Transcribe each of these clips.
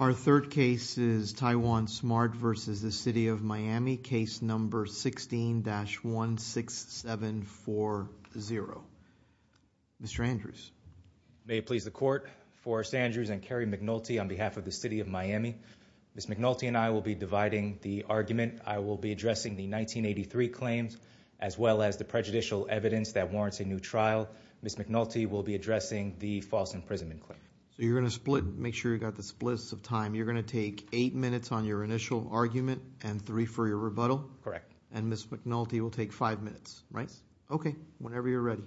Our third case is Taiwan Smart v. City of Miami, Case No. 16-16740. Mr. Andrews. May it please the Court, Forrest Andrews and Kerry McNulty on behalf of the City of Miami. Ms. McNulty and I will be dividing the argument. I will be addressing the 1983 claims as well as the prejudicial evidence that warrants a new trial. Ms. McNulty will be addressing the false imprisonment claim. So you're going to split, make sure you've got the splits of time. You're going to take eight minutes on your initial argument and three for your rebuttal? Correct. And Ms. McNulty will take five minutes, right? Okay, whenever you're ready.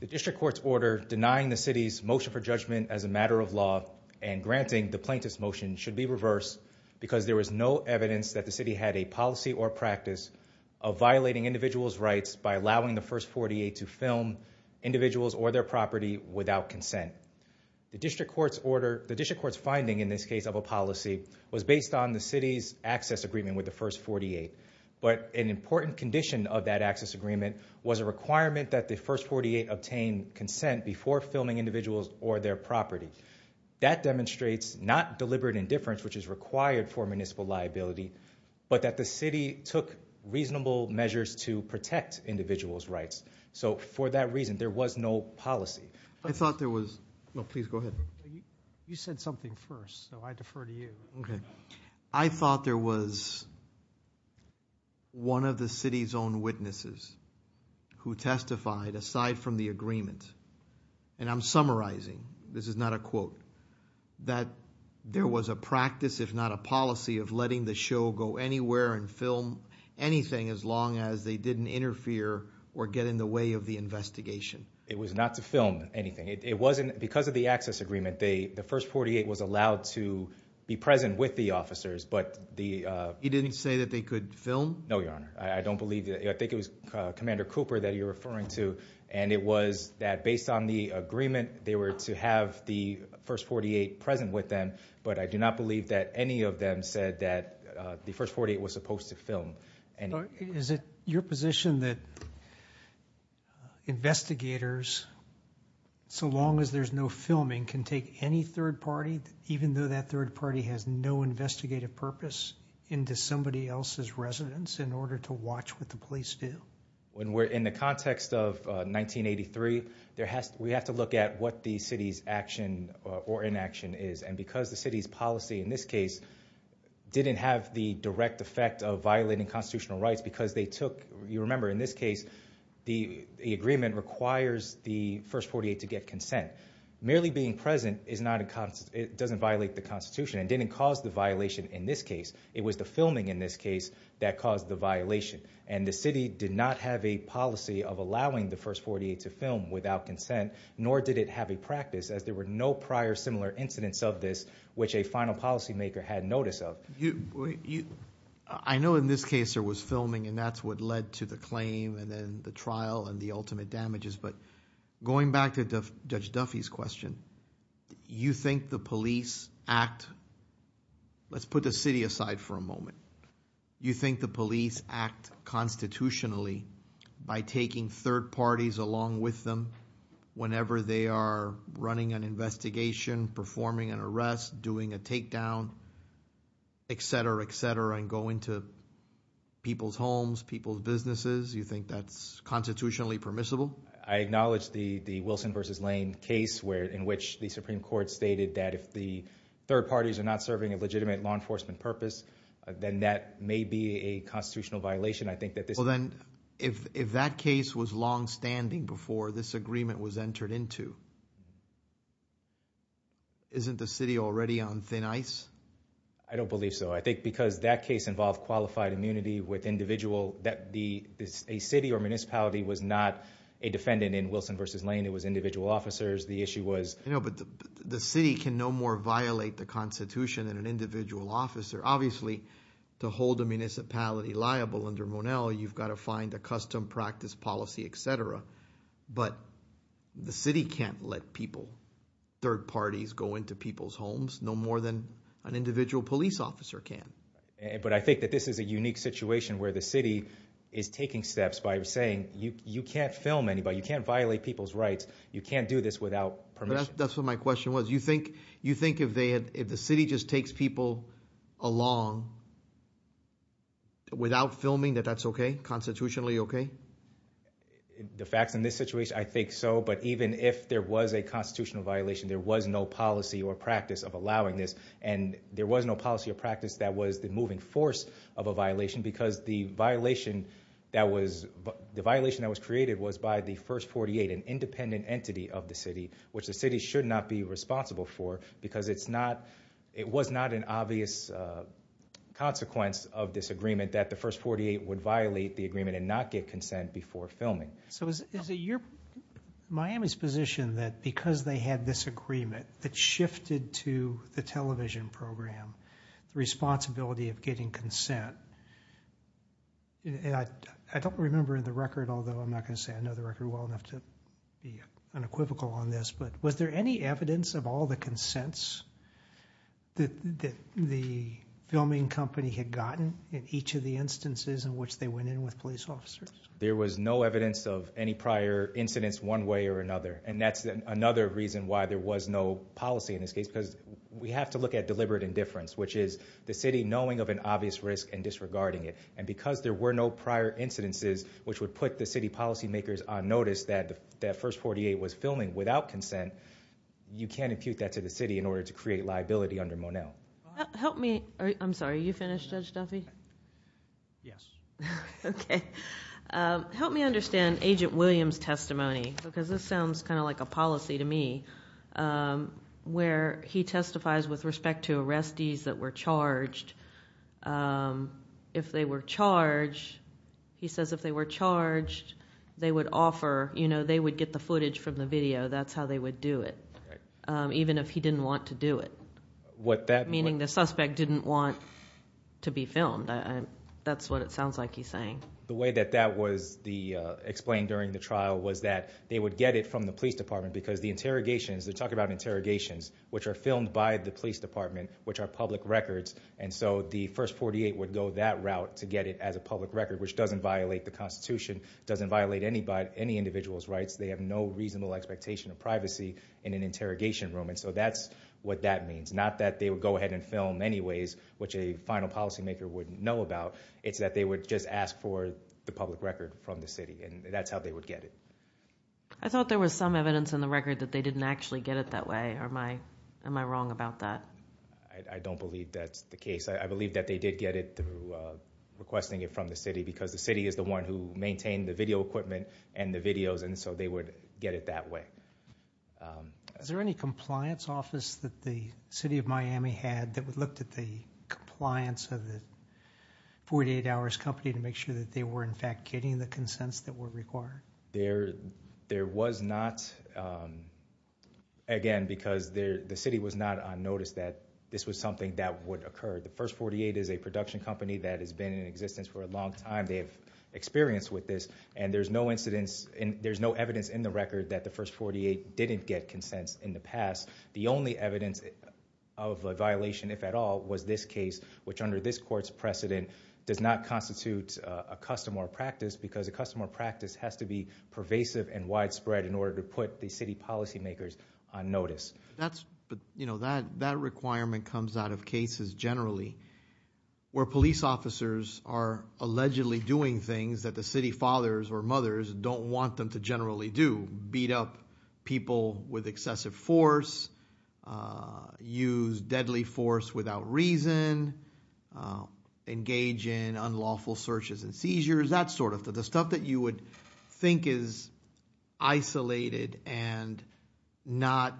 The District Court's order denying the City's motion for judgment as a matter of law and granting the plaintiff's motion should be reversed because there was no evidence that the City had a policy or practice of violating individuals' rights by allowing the First 48 to film individuals or their property without consent. The District Court's order, the District Court's finding in this case of a policy was based on the City's access agreement with the First 48. But an important condition of that access agreement was a requirement that the First 48 obtain consent before filming individuals or their property. That demonstrates not deliberate indifference, which is required for municipal liability, but that the City took reasonable measures to protect individuals' rights. So for that reason, there was no policy. I thought there was, no, please go ahead. You said something first, so I defer to you. Okay. I thought there was one of the City's own witnesses who testified, aside from the agreement, and I'm summarizing, this is not a quote, that there was a practice, if not a policy, of letting the show go anywhere and film anything as long as they didn't interfere or get in the way of the investigation. It was not to film anything. It wasn't, because of the access agreement, the First 48 was allowed to be present with the officers, but the- You didn't say that they could film? No, Your Honor. I don't believe that, I think it was Commander Cooper that you're referring to, and it was that based on the agreement, they were to have the First 48 present with them, but I do not believe that any of them said that the First 48 was supposed to film anything. Is it your position that investigators, so long as there's no filming, can take any third party, even though that third party has no investigative purpose, into somebody else's residence in order to watch what the police do? When we're in the context of 1983, we have to look at what the City's action or inaction is. And because the City's policy, in this case, didn't have the direct effect of violating constitutional rights because they took, you remember in this case, the agreement requires the First 48 to get consent. Merely being present doesn't violate the Constitution and didn't cause the violation in this case. It was the filming in this case that caused the violation. And the City did not have a policy of allowing the First 48 to film without consent, nor did it have a practice, as there were no prior similar incidents of this, which a final policy maker had notice of. I know in this case there was filming, and that's what led to the claim, and then the trial, and the ultimate damages. But going back to Judge Duffy's question, you think the police act, let's put the city aside for a moment, you think the police act constitutionally by taking third parties along with them whenever they are running an investigation, performing an arrest, doing a takedown, etc., etc., and go into people's homes, people's businesses, you think that's constitutionally permissible? I acknowledge the Wilson versus Lane case in which the Supreme Court stated that if the third parties are not serving a legitimate law enforcement purpose, then that may be a constitutional violation. I think that this- Well then, if that case was long standing before this agreement was entered into, isn't the city already on thin ice? I don't believe so. I think because that case involved qualified immunity with individual, that a city or municipality was not a defendant in Wilson versus Lane, it was individual officers, the issue was- But the city can no more violate the constitution than an individual officer. Obviously, to hold a municipality liable under Monell, you've got to find a custom practice policy, etc. But the city can't let people, third parties, go into people's homes, no more than an individual police officer can. But I think that this is a unique situation where the city is taking steps by saying, you can't film anybody, you can't violate people's rights. You can't do this without permission. That's what my question was. You think if the city just takes people along without filming that that's okay, constitutionally okay? The facts in this situation, I think so. But even if there was a constitutional violation, there was no policy or practice of allowing this. And there was no policy or practice that was the moving force of a violation because the violation that was created was by the first 48, an independent entity of the city, which the city should not be responsible for because it was not an obvious consequence of this agreement that the first 48 would violate the agreement and not get consent before filming. So is it your, Miami's position that because they had this agreement that shifted to the television program, the responsibility of getting consent, and I don't remember the record, although I'm not going to say I know the record well enough to be unequivocal on this, but was there any evidence of all the consents that the filming company had gotten in each of the instances in which they went in with police officers? There was no evidence of any prior incidents one way or another. And that's another reason why there was no policy in this case, because we have to look at deliberate indifference, which is the city knowing of an obvious risk and disregarding it. And because there were no prior incidences which would put the city policy makers on notice that that first 48 was filming without consent, you can't impute that to the city in order to create liability under Monell. Help me, I'm sorry, are you finished, Judge Duffy? Yes. Okay, help me understand Agent Williams' testimony, because this sounds kind of like a policy to me, where he testifies with respect to arrestees that were charged. If they were charged, he says if they were charged, they would offer, they would get the footage from the video, that's how they would do it, even if he didn't want to do it. What that- Meaning the suspect didn't want to be filmed, that's what it sounds like he's saying. The way that that was explained during the trial was that they would get it from the police department, because the interrogations, they're talking about interrogations, which are filmed by the police department, which are public records. And so the first 48 would go that route to get it as a public record, which doesn't violate the Constitution, doesn't violate any individual's rights. They have no reasonable expectation of privacy in an interrogation room. And so that's what that means. Not that they would go ahead and film anyways, which a final policy maker wouldn't know about. It's that they would just ask for the public record from the city, and that's how they would get it. I thought there was some evidence in the record that they didn't actually get it that way. Am I wrong about that? I don't believe that's the case. I believe that they did get it through requesting it from the city, because the city is the one who maintained the video equipment and the videos, and so they would get it that way. Is there any compliance office that the city of Miami had that looked at the compliance of the 48 hours company to make sure that they were in fact getting the consents that were required? There was not, again, because the city was not on notice that this was something that would occur. The first 48 is a production company that has been in existence for a long time. They have experience with this, and there's no evidence in the record that the first 48 didn't get consents in the past. The only evidence of a violation, if at all, was this case, which under this court's precedent does not constitute a custom or practice. Because a custom or practice has to be pervasive and widespread in order to put the city policy makers on notice. But that requirement comes out of cases generally where police officers are allegedly doing things that the city fathers or mothers don't want them to generally do. Beat up people with excessive force, use deadly force without reason, engage in unlawful searches and seizures, that sort of thing. Because the stuff that you would think is isolated and not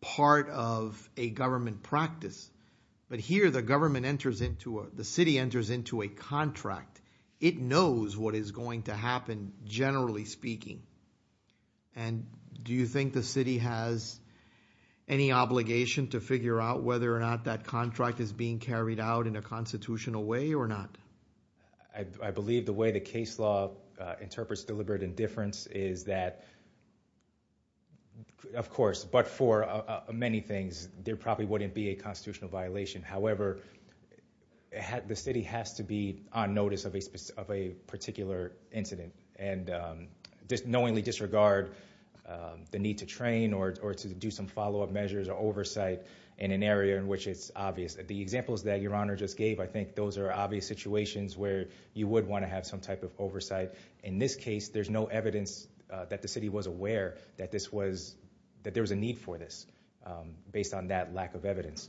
part of a government practice. But here, the city enters into a contract. It knows what is going to happen, generally speaking. And do you think the city has any obligation to figure out whether or not that contract is being carried out in a constitutional way or not? I believe the way the case law interprets deliberate indifference is that, of course, but for many things, there probably wouldn't be a constitutional violation. However, the city has to be on notice of a particular incident. And just knowingly disregard the need to train or to do some follow up measures or oversight in an area in which it's obvious. The examples that your honor just gave, I think those are obvious situations where you would want to have some type of oversight. In this case, there's no evidence that the city was aware that there was a need for this, based on that lack of evidence.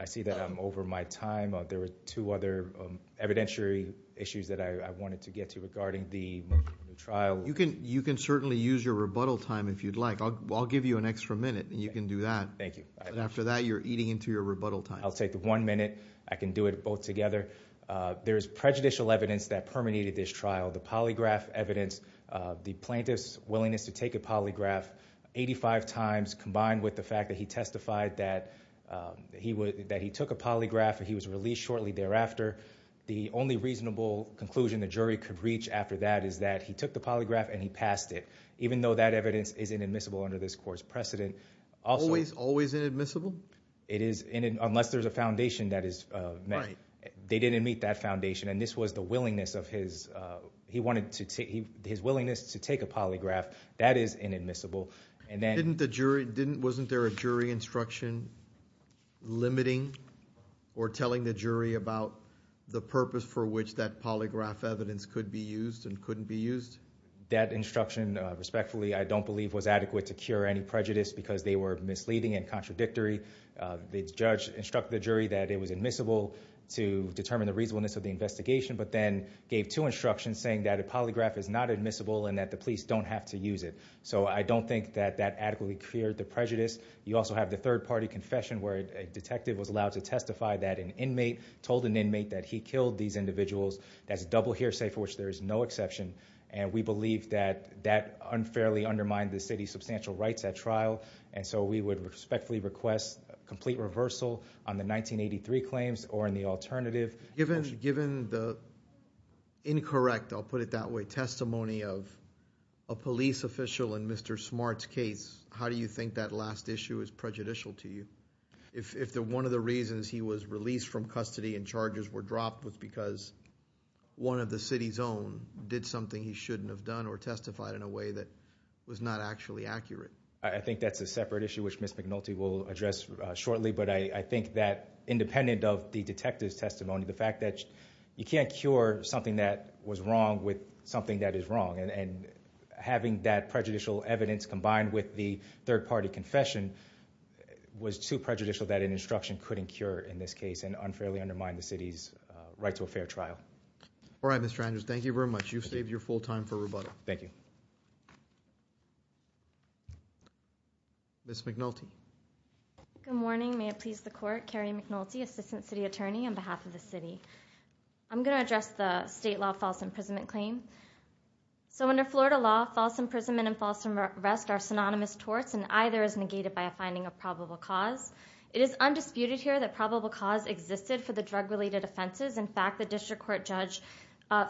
I see that I'm over my time, there were two other evidentiary issues that I wanted to get to regarding the trial. You can certainly use your rebuttal time if you'd like. I'll give you an extra minute and you can do that. Thank you. After that, you're eating into your rebuttal time. I'll take the one minute, I can do it both together. There's prejudicial evidence that permeated this trial. The polygraph evidence, the plaintiff's willingness to take a polygraph 85 times, combined with the fact that he testified that he took a polygraph and he was released shortly thereafter. The only reasonable conclusion the jury could reach after that is that he took the polygraph and he passed it. Even though that evidence is inadmissible under this court's precedent. Always, always inadmissible? It is, unless there's a foundation that is met. They didn't meet that foundation, and this was the willingness of his, his willingness to take a polygraph. That is inadmissible. And then- Didn't the jury, wasn't there a jury instruction limiting or telling the jury about the purpose for which that polygraph evidence could be used and couldn't be used? That instruction, respectfully, I don't believe was adequate to cure any prejudice because they were misleading and contradictory. The judge instructed the jury that it was admissible to determine the reasonableness of the investigation, but then gave two instructions saying that a polygraph is not admissible and that the police don't have to use it. So I don't think that that adequately cleared the prejudice. You also have the third party confession where a detective was allowed to testify that an inmate told an inmate that he killed these individuals. That's double hearsay for which there is no exception, and we believe that that unfairly undermined the city's substantial rights at trial. And so we would respectfully request complete reversal on the 1983 claims or in the alternative. Given the incorrect, I'll put it that way, testimony of a police official in Mr. Smart's case, how do you think that last issue is prejudicial to you? If one of the reasons he was released from custody and charges were dropped was because one of the city's own did something he shouldn't have done or testified in a way that was not actually accurate. I think that's a separate issue which Ms. McNulty will address shortly, but I think that independent of the detective's testimony, the fact that you can't cure something that was wrong with something that is wrong. And having that prejudicial evidence combined with the third party confession was too prejudicial that an instruction couldn't cure in this case and unfairly undermine the city's right to a fair trial. All right, Mr. Andrews, thank you very much. You've saved your full time for rebuttal. Thank you. Ms. McNulty. Good morning, may it please the court, Carrie McNulty, Assistant City Attorney on behalf of the city. I'm going to address the state law false imprisonment claim. So under Florida law, false imprisonment and false arrest are synonymous torts and either is negated by a finding of probable cause. It is undisputed here that probable cause existed for the drug related offenses. In fact, the district court judge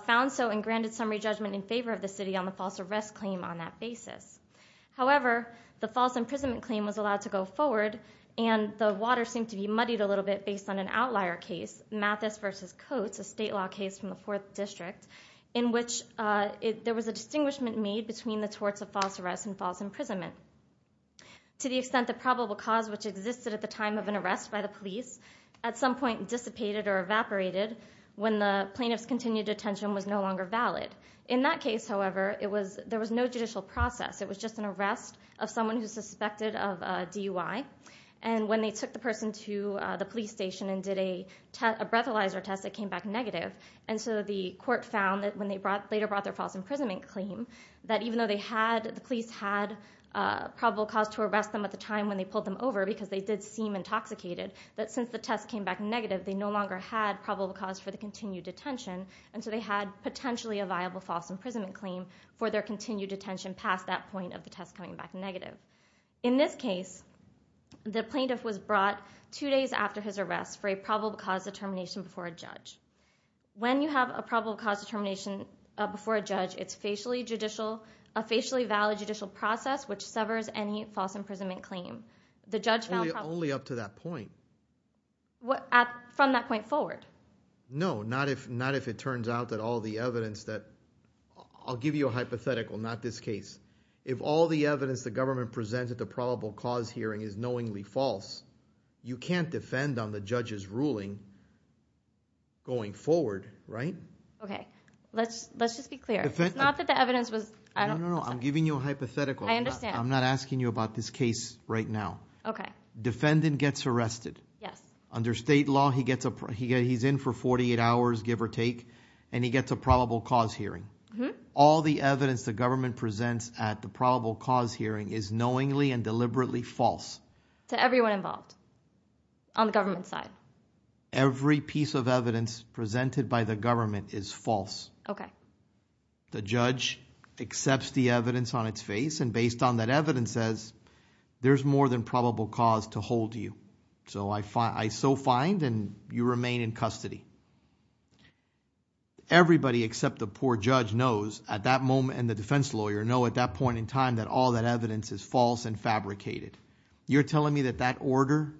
found so and granted summary judgment in favor of the city on the false arrest claim on that basis. However, the false imprisonment claim was allowed to go forward and the water seemed to be muddied a little bit based on an outlier case, Mathis versus Coates, a state law case from the fourth district in which there was a distinguishment made between the torts of false arrest and false imprisonment. To the extent the probable cause which existed at the time of an arrest by the police at some point dissipated or evaporated when the plaintiff's continued detention was no longer valid. In that case, however, there was no judicial process. It was just an arrest of someone who's suspected of DUI. And when they took the person to the police station and did a breathalyzer test, it came back negative. And so the court found that when they later brought their false imprisonment claim, that even though the police had probable cause to arrest them at the time when they pulled them over, because they did seem intoxicated, that since the test came back negative, they no longer had probable cause for the continued detention. And so they had potentially a viable false imprisonment claim for their continued detention past that point of the test coming back negative. In this case, the plaintiff was brought two days after his arrest for a probable cause determination before a judge. When you have a probable cause determination before a judge, it's a facially valid judicial process which severs any false imprisonment claim. The judge found- Only up to that point. From that point forward. No, not if it turns out that all the evidence that, I'll give you a hypothetical, not this case. If all the evidence the government presents at the probable cause hearing is knowingly false, you can't defend on the judge's ruling going forward, right? Okay, let's just be clear. It's not that the evidence was- No, no, no, I'm giving you a hypothetical. I understand. I'm not asking you about this case right now. Okay. Defendant gets arrested. Yes. Under state law, he's in for 48 hours, give or take, and he gets a probable cause hearing. All the evidence the government presents at the probable cause hearing is knowingly and deliberately false. To everyone involved on the government side. Every piece of evidence presented by the government is false. Okay. The judge accepts the evidence on its face, and based on that evidence says, there's more than probable cause to hold you. So I so find, and you remain in custody. Everybody except the poor judge knows, at that moment, and the defense lawyer know at that point in time that all that evidence is false and fabricated. You're telling me that that order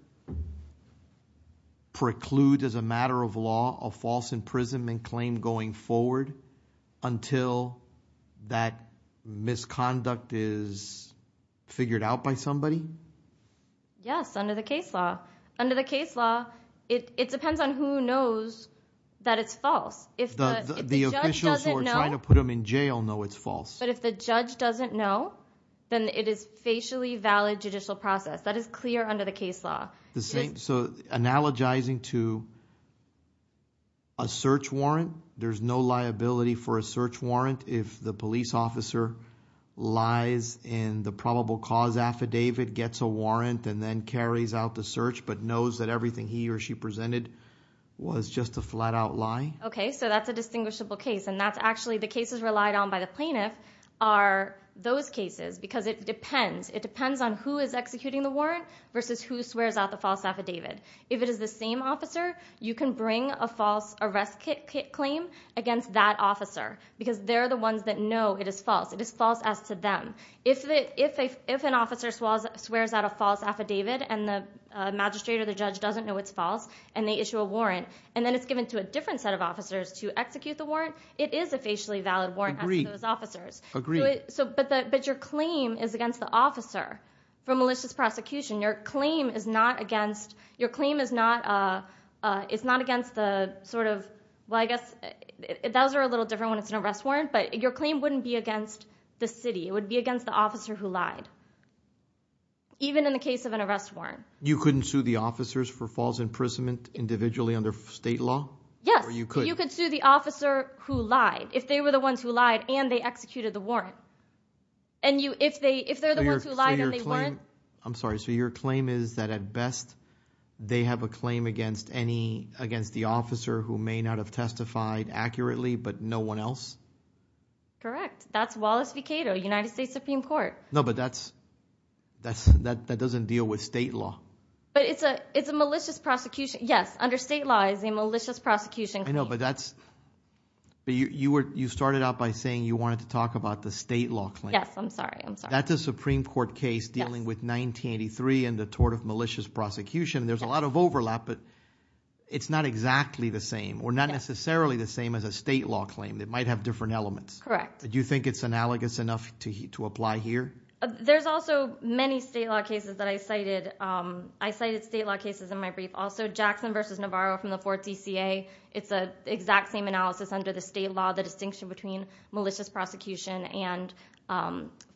precludes as a matter of law, a false imprisonment claim going forward until that misconduct is figured out by somebody? Yes, under the case law. Under the case law, it depends on who knows that it's false. If the- The officials who are trying to put him in jail know it's false. But if the judge doesn't know, then it is facially valid judicial process. That is clear under the case law. The same, so analogizing to a search warrant. There's no liability for a search warrant if the police officer lies in the probable cause affidavit, gets a warrant, and then carries out the search, but knows that everything he or she presented was just a flat out lie? Okay, so that's a distinguishable case. And that's actually, the cases relied on by the plaintiff are those cases, because it depends. It depends on who is executing the warrant versus who swears out the false affidavit. If it is the same officer, you can bring a false arrest claim against that officer, because they're the ones that know it is false, it is false as to them. If an officer swears out a false affidavit, and the magistrate or the judge doesn't know it's false, and they issue a warrant, and then it's given to a different set of officers to execute the warrant, it is a facially valid warrant as to those officers. Agreed, agreed. But your claim is against the officer for malicious prosecution. Your claim is not against the sort of, well, I guess those are a little different when it's an arrest warrant. But your claim wouldn't be against the city, it would be against the officer who lied, even in the case of an arrest warrant. You couldn't sue the officers for false imprisonment individually under state law? Yes, you could sue the officer who lied, if they were the ones who lied and they executed the warrant. And if they're the ones who lied, then they weren't. I'm sorry, so your claim is that at best, they have a claim against the officer who may not have testified accurately, but no one else? Correct, that's Wallace Vecato, United States Supreme Court. No, but that doesn't deal with state law. But it's a malicious prosecution, yes, under state law is a malicious prosecution. I know, but you started out by saying you wanted to talk about the state law claim. Yes, I'm sorry, I'm sorry. That's a Supreme Court case dealing with 1983 and the tort of malicious prosecution. There's a lot of overlap, but it's not exactly the same, or not necessarily the same as a state law claim. It might have different elements. Correct. Do you think it's analogous enough to apply here? There's also many state law cases that I cited. I cited state law cases in my brief. Also, Jackson versus Navarro from the 4th CCA, it's the exact same analysis under the state law, the distinction between malicious prosecution and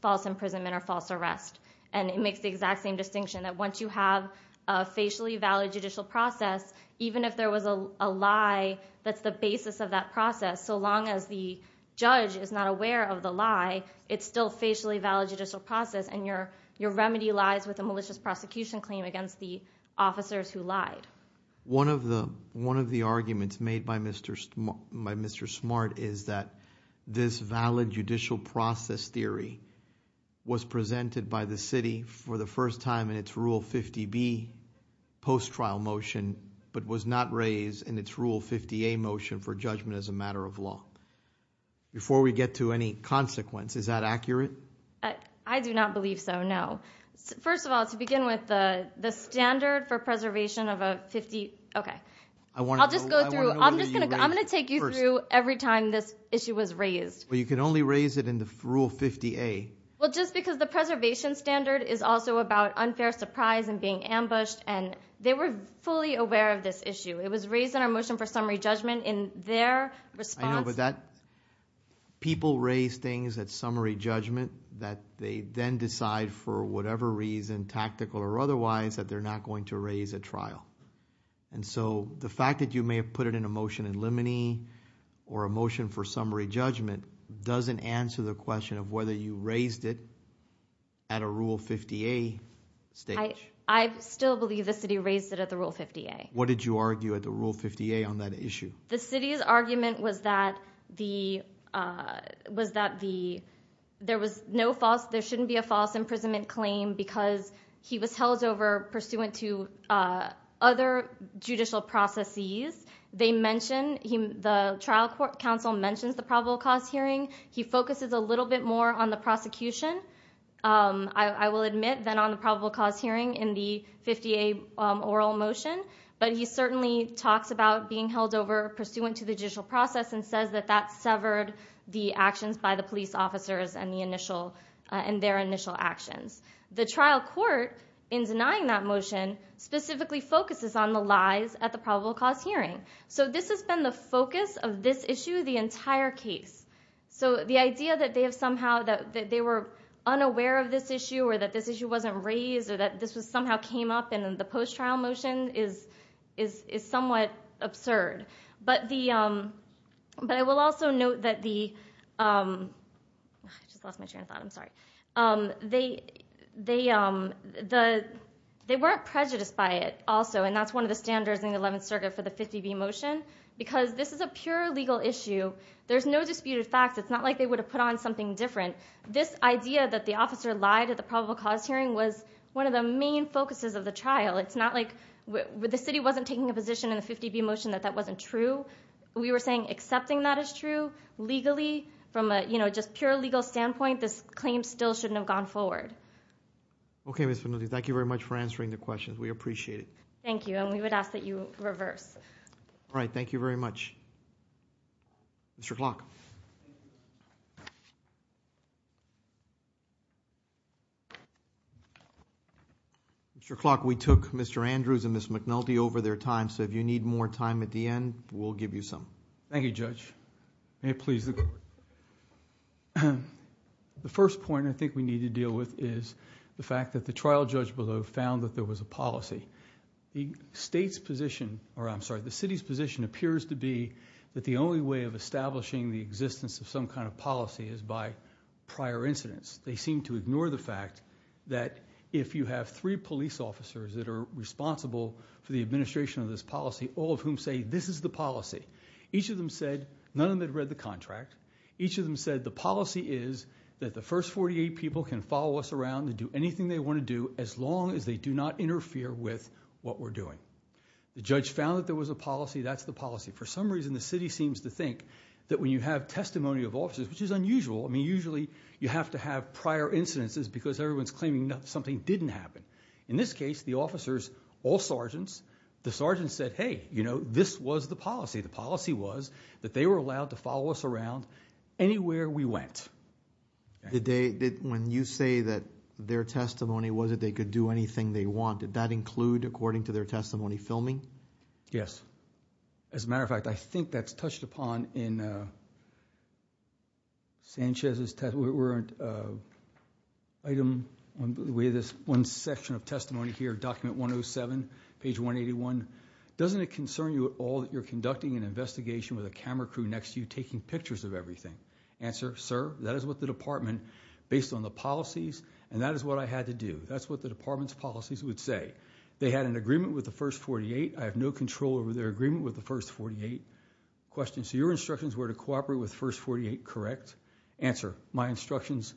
false imprisonment or false arrest. And it makes the exact same distinction, that once you have a facially valid judicial process, even if there was a lie, that's the basis of that process. So long as the judge is not aware of the lie, it's still facially valid judicial process, and your remedy lies with a malicious prosecution claim against the officers who lied. One of the arguments made by Mr. Smart is that this valid judicial process theory was presented by the city for the first time in its Rule 50B post-trial motion, but was not raised in its Rule 50A motion for judgment as a matter of law. Before we get to any consequence, is that accurate? I do not believe so, no. First of all, to begin with, the standard for preservation of a 50, okay. I'll just go through, I'm going to take you through every time this issue was raised. Well, you can only raise it in the Rule 50A. Well, just because the preservation standard is also about unfair surprise and being ambushed, and they were fully aware of this issue. It was raised in our motion for summary judgment in their response. I know, but people raise things at summary judgment that they then decide for whatever reason, tactical or otherwise, that they're not going to raise at trial. And so the fact that you may have put it in a motion in limine or a motion for summary judgment doesn't answer the question of whether you raised it at a Rule 50A stage. I still believe the city raised it at the Rule 50A. What did you argue at the Rule 50A on that issue? The city's argument was that there shouldn't be a false imprisonment claim because he was held over pursuant to other judicial processes. They mentioned, the trial court counsel mentions the probable cause hearing. He focuses a little bit more on the prosecution, I will admit, than on the probable cause hearing in the 50A oral motion. But he certainly talks about being held over pursuant to the judicial process and says that that severed the actions by the police officers and their initial actions. The trial court, in denying that motion, specifically focuses on the lies at the probable cause hearing. So this has been the focus of this issue the entire case. So the idea that they were unaware of this issue or that this issue wasn't raised or that this somehow came up in the post-trial motion is somewhat absurd. But I will also note that the, I just lost my train of thought, I'm sorry. They weren't prejudiced by it also, and that's one of the standards in the 11th Circuit for the 50B motion. Because this is a pure legal issue, there's no disputed facts. It's not like they would have put on something different. This idea that the officer lied at the probable cause hearing was one of the main focuses of the trial. It's not like, the city wasn't taking a position in the 50B motion that that wasn't true. We were saying accepting that as true, legally, from a just pure legal standpoint, this claim still shouldn't have gone forward. Okay, Ms. Vanuti, thank you very much for answering the questions. We appreciate it. Thank you, and we would ask that you reverse. All right, thank you very much. Mr. Clark. Mr. Clark, we took Mr. Andrews and Ms. McNulty over their time, so if you need more time at the end, we'll give you some. Thank you, Judge. May it please the court. The first point I think we need to deal with is the fact that the trial judge below found that there was a policy. The state's position, or I'm sorry, the city's position appears to be that the only way of establishing the existence of some kind of policy is by prior incidents. They seem to ignore the fact that if you have three police officers that are responsible for the administration of this policy, all of whom say this is the policy. Each of them said, none of them had read the contract. Each of them said the policy is that the first 48 people can follow us around and do anything they want to do as long as they do not interfere with what we're doing. The judge found that there was a policy, that's the policy. For some reason, the city seems to think that when you have testimony of officers, which is unusual, I mean, usually you have to have prior incidences because everyone's claiming something didn't happen. In this case, the officers, all sergeants, the sergeants said, hey, this was the policy. The policy was that they were allowed to follow us around anywhere we went. Did they, when you say that their testimony was that they could do anything they want, did that include, according to their testimony, filming? Yes. As a matter of fact, I think that's touched upon in Sanchez's testimony, where item, with this one section of testimony here, document 107, page 181. Doesn't it concern you at all that you're conducting an investigation with a camera crew next to you taking pictures of everything? Answer, sir, that is what the department, based on the policies, and that is what I had to do. That's what the department's policies would say. They had an agreement with the first 48. I have no control over their agreement with the first 48. Question, so your instructions were to cooperate with first 48, correct? Answer, my instructions,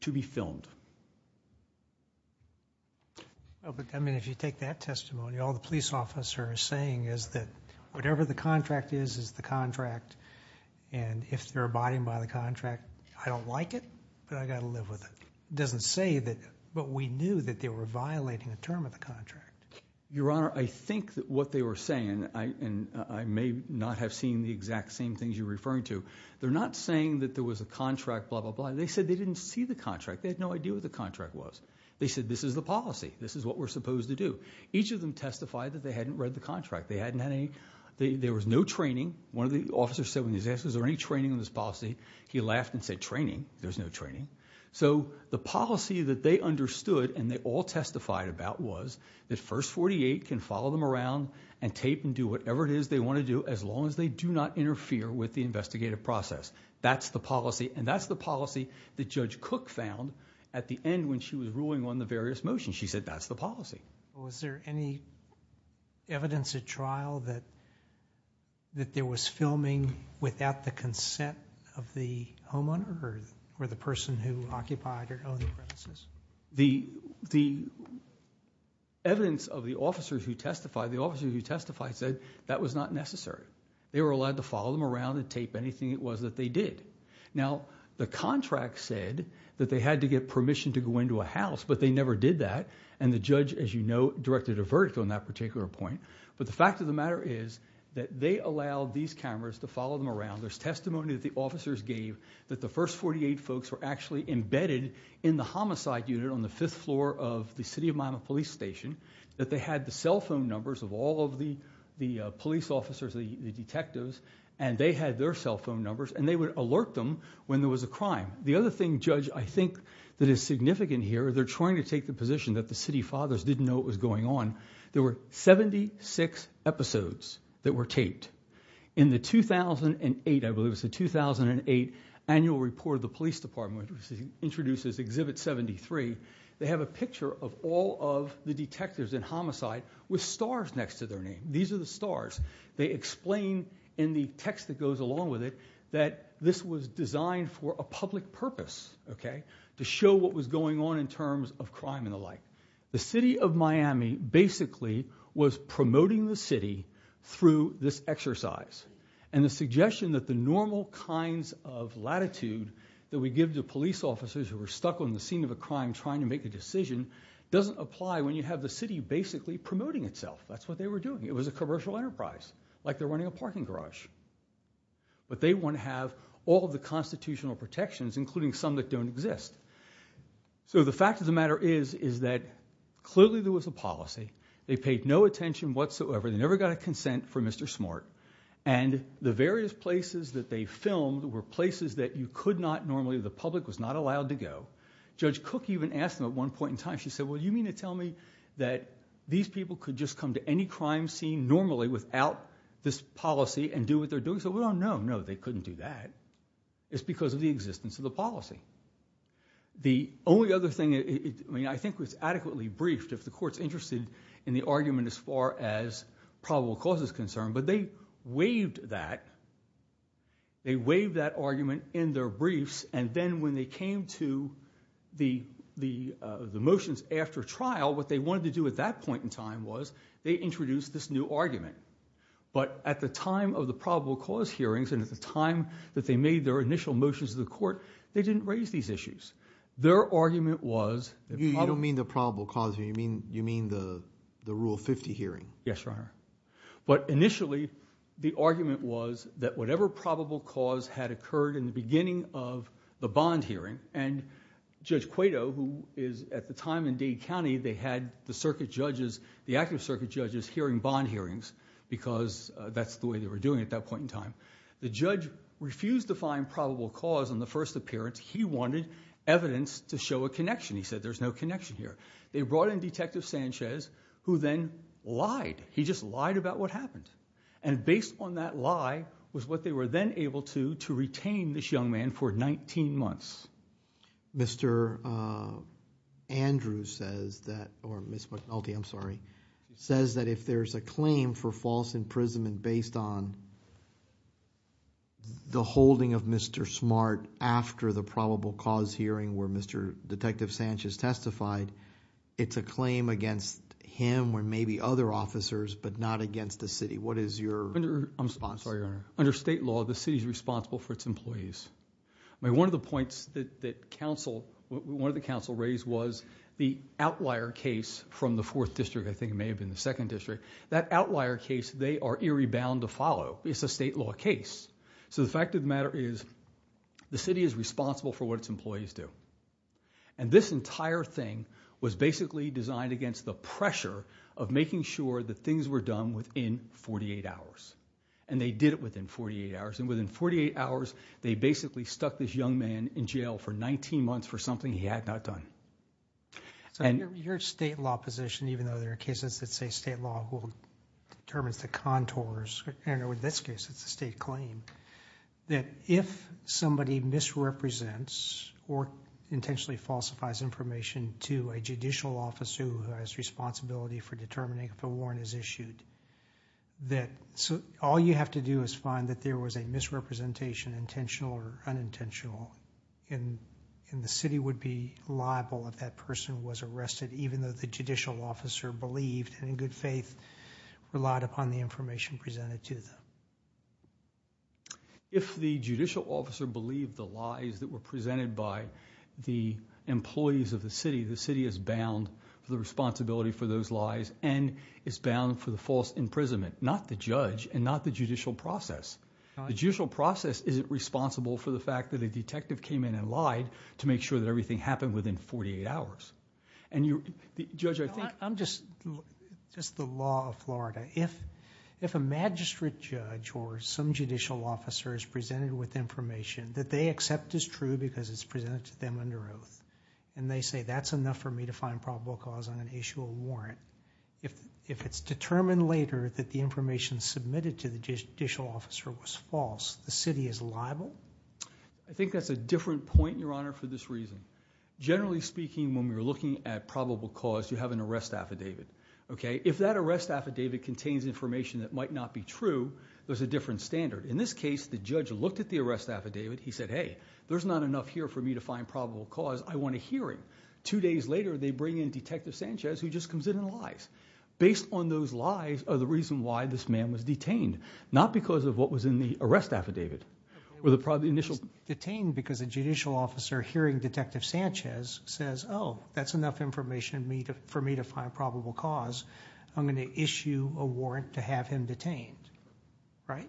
to be filmed. But, I mean, if you take that testimony, all the police officer is saying is that whatever the contract is, is the contract. And if they're abiding by the contract, I don't like it, but I gotta live with it. Doesn't say that, but we knew that they were violating a term of the contract. Your Honor, I think that what they were saying, and I may not have seen the exact same things you're referring to. They're not saying that there was a contract, blah, blah, blah. They said they didn't see the contract. They had no idea what the contract was. They said, this is the policy. This is what we're supposed to do. Each of them testified that they hadn't read the contract. They hadn't had any, there was no training. One of the officers said when he was asked, is there any training on this policy? He laughed and said, training? There's no training. So the policy that they understood, and they all testified about was, that First 48 can follow them around and tape and do whatever it is they wanna do, as long as they do not interfere with the investigative process. That's the policy, and that's the policy that Judge Cook found at the end when she was ruling on the various motions. She said, that's the policy. Was there any evidence at trial that there was filming without the consent of the homeowner or the person who occupied or owned the premises? The evidence of the officers who testified, the officers who testified said that was not necessary. They were allowed to follow them around and tape anything it was that they did. Now, the contract said that they had to get permission to go into a house, but they never did that. And the judge, as you know, directed a verdict on that particular point. But the fact of the matter is that they allowed these cameras to follow them around. There's testimony that the officers gave that the First 48 folks were actually embedded in the homicide unit on the fifth floor of the City of Miami Police Station. That they had the cell phone numbers of all of the police officers, the detectives, and they had their cell phone numbers, and they would alert them when there was a crime. The other thing, Judge, I think that is significant here, they're trying to take the position that the city fathers didn't know it was going on. There were 76 episodes that were taped. In the 2008, I believe it was the 2008 annual report of the police department, which introduces Exhibit 73, they have a picture of all of the detectives in homicide with stars next to their name. These are the stars. They explain in the text that goes along with it that this was designed for a public purpose, okay, to show what was going on in terms of crime and the like. The City of Miami basically was promoting the city through this exercise. And the suggestion that the normal kinds of latitude that we give to police officers who are stuck on the scene of a crime trying to make a decision doesn't apply when you have the city basically promoting itself. That's what they were doing. It was a commercial enterprise, like they're running a parking garage. But they want to have all of the constitutional protections, including some that don't exist. So the fact of the matter is, is that clearly there was a policy. They paid no attention whatsoever. They never got a consent from Mr. Smart. And the various places that they filmed were places that you could not normally, the public was not allowed to go. Judge Cook even asked them at one point in time, she said, well, you mean to tell me that these people could just come to any crime scene normally without this policy and do what they're doing? Said, well, no, no, they couldn't do that. It's because of the existence of the policy. The only other thing, I mean, I think it was adequately briefed, if the court's interested in the argument as far as probable cause is concerned. But they waived that, they waived that argument in their briefs. And then when they came to the motions after trial, what they wanted to do at that point in time was they introduced this new argument. But at the time of the probable cause hearings and at the time that they made their initial motions to the court, they didn't raise these issues. Their argument was- You don't mean the probable cause, you mean the Rule 50 hearing? Yes, Your Honor. But initially, the argument was that whatever probable cause had occurred in the beginning of the bond hearing, and Judge Cueto, who is at the time in Dade County, they had the circuit judges, the active circuit judges hearing bond hearings, because that's the way they were doing it at that point in time. The judge refused to find probable cause on the first appearance. He wanted evidence to show a connection. He said, there's no connection here. They brought in Detective Sanchez, who then lied. He just lied about what happened. And based on that lie was what they were then able to, to retain this young man for 19 months. Mr. Andrews says that, or Ms. McNulty, I'm sorry, says that if there's a claim for false imprisonment based on the holding of Mr. Smart after the probable cause hearing where Mr. Detective Sanchez testified, it's a claim against him or maybe other officers, but not against the city. What is your response? I'm sorry, Your Honor. Under state law, the city's responsible for its employees. One of the points that council, one of the council raised was the outlier case from the fourth district. I think it may have been the second district. That outlier case, they are eerie bound to follow. It's a state law case. So the fact of the matter is, the city is responsible for what its employees do. And this entire thing was basically designed against the pressure of making sure that things were done within 48 hours. And they did it within 48 hours. And within 48 hours, they basically stuck this young man in jail for 19 months for something he had not done. So your state law position, even though there are cases that say state law determines the contours, in this case, it's a state claim, that if somebody misrepresents or intentionally falsifies information to a judicial officer who has responsibility for determining if a warrant is issued, that all you have to do is find that there was a misrepresentation, intentional or unintentional. And the city would be liable if that person was arrested, even though the judicial officer believed and in good faith relied upon the information presented to them. If the judicial officer believed the lies that were presented by the employees of the city, the city is bound for the responsibility for those lies and is bound for the false imprisonment. Not the judge and not the judicial process. The judicial process isn't responsible for the fact that a detective came in and lied to make sure that everything happened within 48 hours, and you, Judge, I think- I'm just, just the law of Florida. If, if a magistrate judge or some judicial officer is presented with information that they accept is true because it's presented to them under oath. And they say that's enough for me to find probable cause on an issue of warrant. If, if it's determined later that the information submitted to the judicial officer was false, the city is liable? I think that's a different point, your honor, for this reason. Generally speaking, when we're looking at probable cause, you have an arrest affidavit, okay? If that arrest affidavit contains information that might not be true, there's a different standard. In this case, the judge looked at the arrest affidavit. He said, hey, there's not enough here for me to find probable cause. I want a hearing. Two days later, they bring in Detective Sanchez, who just comes in and lies. Based on those lies are the reason why this man was detained. Not because of what was in the arrest affidavit, or the initial- Detained because a judicial officer hearing Detective Sanchez says, oh, that's enough information for me to find probable cause. I'm going to issue a warrant to have him detained, right?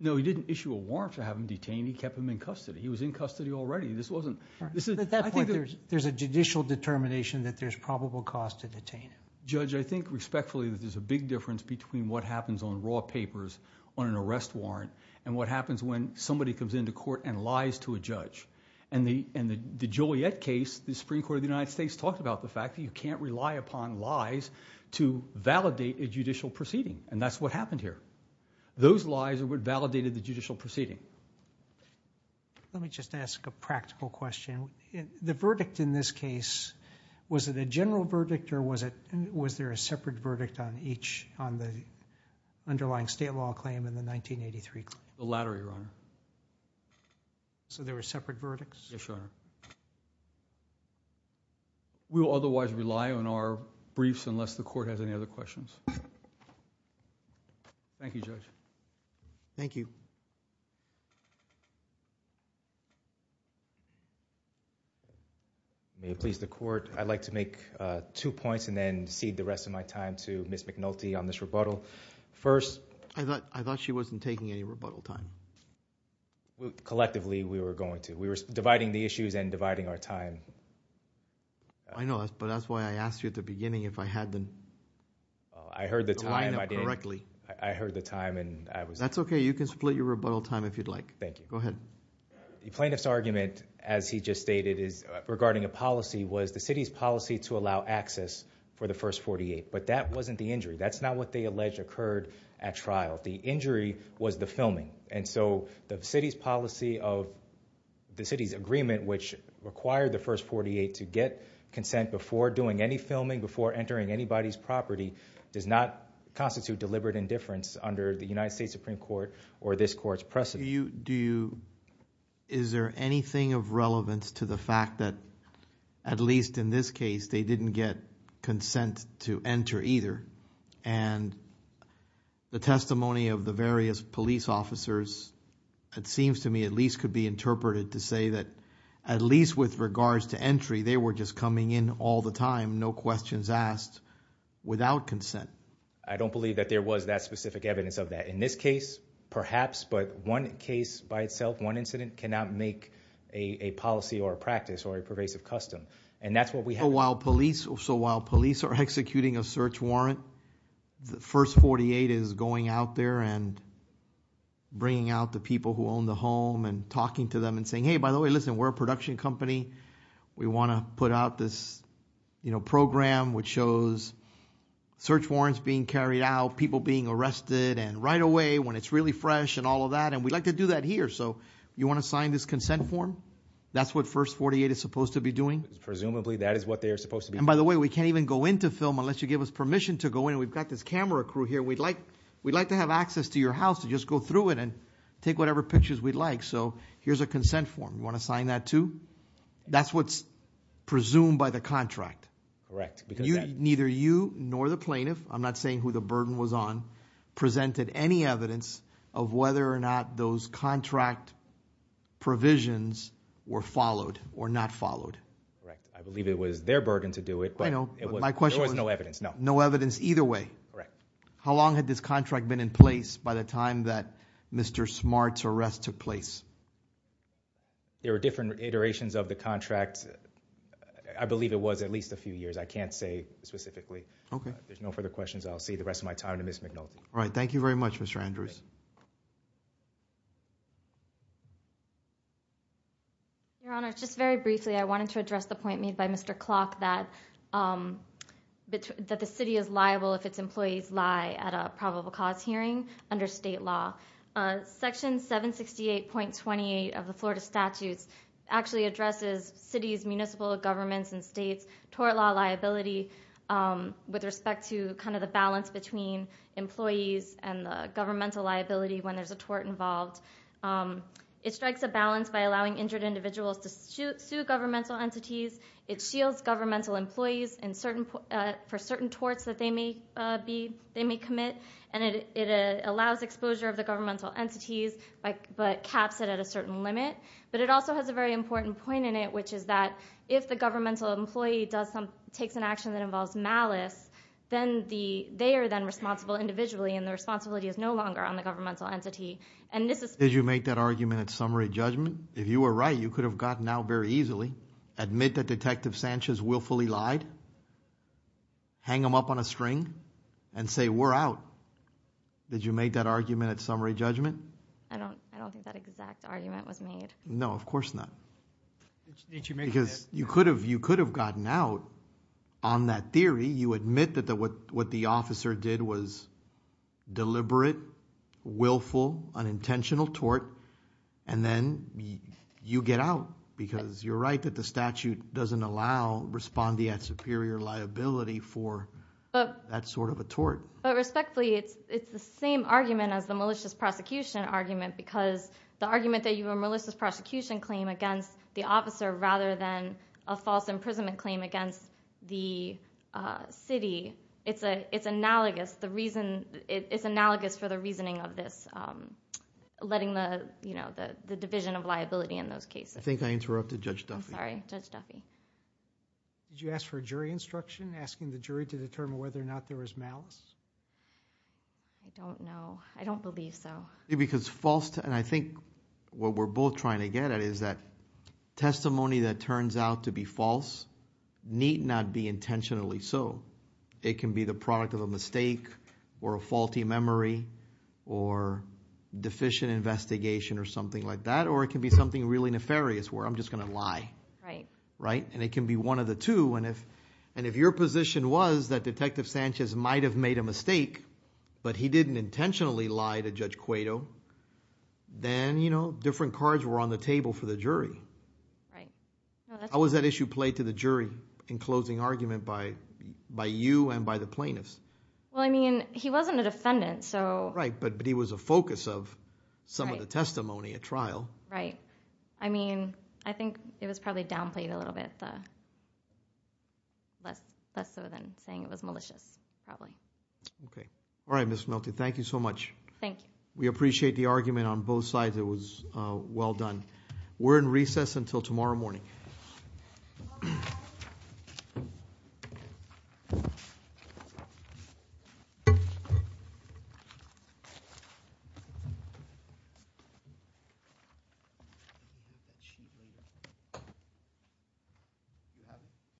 No, he didn't issue a warrant to have him detained. He kept him in custody. He was in custody already. This wasn't, this is- At that point, there's a judicial determination that there's probable cause to detain him. Judge, I think respectfully that there's a big difference between what happens on on an arrest warrant and what happens when somebody comes into court and lies to a judge. And the Juliet case, the Supreme Court of the United States talked about the fact that you can't rely upon lies to validate a judicial proceeding. And that's what happened here. Those lies are what validated the judicial proceeding. Let me just ask a practical question. The verdict in this case, was it a general verdict or was there a separate verdict on each, on the underlying state law claim in the 1983 claim? The latter, Your Honor. So there were separate verdicts? Yes, Your Honor. We will otherwise rely on our briefs unless the court has any other questions. Thank you. May it please the court. I'd like to make two points and then cede the rest of my time to Ms. McNulty on this rebuttal. First- I thought she wasn't taking any rebuttal time. Collectively, we were going to. We were dividing the issues and dividing our time. I know, but that's why I asked you at the beginning if I had the- I heard the time. I did. I heard the time and I was- That's okay, you can split your rebuttal time if you'd like. Thank you. Go ahead. The plaintiff's argument, as he just stated, is regarding a policy, was the city's policy to allow access for the first 48. But that wasn't the injury. That's not what they alleged occurred at trial. The injury was the filming. And so the city's policy of, the city's agreement which required the first 48 to get consent before doing any filming, before entering anybody's property, does not constitute deliberate indifference under the United States Supreme Court or this court's precedent. Do you, is there anything of relevance to the fact that, at least in this case, they didn't get consent to enter either? And the testimony of the various police officers, it seems to me, at least could be interpreted to say that, at least with regards to entry, they were just coming in all the time, no questions asked, without consent. I don't believe that there was that specific evidence of that. In this case, perhaps, but one case by itself, one incident, cannot make a policy or a practice or a pervasive custom. And that's what we have- So while police are executing a search warrant, the first 48 is going out there and bringing out the people who own the home and talking to them and saying, hey, by the way, listen, we're a production company. We want to put out this program which shows search warrants being carried out, people being arrested, and right away when it's really fresh and all of that, and we'd like to do that here. So you want to sign this consent form? That's what first 48 is supposed to be doing? Presumably, that is what they are supposed to be doing. And by the way, we can't even go into film unless you give us permission to go in. We've got this camera crew here. We'd like to have access to your house to just go through it and take whatever pictures we'd like. So here's a consent form. You want to sign that too? That's what's presumed by the contract. Correct, because that- On presented any evidence of whether or not those contract provisions were followed or not followed. Correct, I believe it was their burden to do it, but- I know, but my question was- There was no evidence, no. No evidence either way. Correct. How long had this contract been in place by the time that Mr. Smart's arrest took place? There were different iterations of the contract. I believe it was at least a few years. I can't say specifically. Okay. There's no further questions. I'll save the rest of my time to Ms. McNulty. All right, thank you very much, Mr. Andrews. Your Honor, just very briefly, I wanted to address the point made by Mr. Clock that the city is liable if its employees lie at a probable cause hearing under state law. Section 768.28 of the Florida Statutes actually addresses city's municipal governments and the balance between employees and the governmental liability when there's a tort involved. It strikes a balance by allowing injured individuals to sue governmental entities. It shields governmental employees for certain torts that they may commit. And it allows exposure of the governmental entities, but caps it at a certain limit. But it also has a very important point in it, which is that if the governmental employee takes an action that involves malice, then they are then responsible individually, and the responsibility is no longer on the governmental entity. And this is- Did you make that argument at summary judgment? If you were right, you could have gotten out very easily. Admit that Detective Sanchez willfully lied, hang him up on a string, and say, we're out. Did you make that argument at summary judgment? I don't think that exact argument was made. No, of course not. Did you make that? Because you could have gotten out on that theory. You admit that what the officer did was deliberate, willful, unintentional tort, and then you get out. Because you're right that the statute doesn't allow respondee at superior liability for that sort of a tort. But respectfully, it's the same argument as the malicious prosecution argument. Because the argument that you have a malicious prosecution claim against the officer, rather than a false imprisonment claim against the city, it's analogous for the reasoning of this, letting the division of liability in those cases. I think I interrupted Judge Duffy. I'm sorry, Judge Duffy. Did you ask for a jury instruction, asking the jury to determine whether or not there was malice? I don't know. I don't believe so. Because false, and I think what we're both trying to get at is that testimony that turns out to be false need not be intentionally so. It can be the product of a mistake or a faulty memory or deficient investigation or something like that, or it can be something really nefarious where I'm just going to lie. Right. Right? And it can be one of the two. And if your position was that Detective Sanchez might have made a mistake, but he didn't intentionally lie to Judge Cueto, then different cards were on the table for the jury. Right. How was that issue played to the jury in closing argument by you and by the plaintiffs? Well, I mean, he wasn't a defendant, so- Right, but he was a focus of some of the testimony at trial. Right. I mean, I think it was probably downplayed a little bit, less so than saying it was malicious, probably. Okay. All right, Ms. Melty, thank you so much. Thank you. We appreciate the argument on both sides. It was well done. We're in recess until tomorrow morning.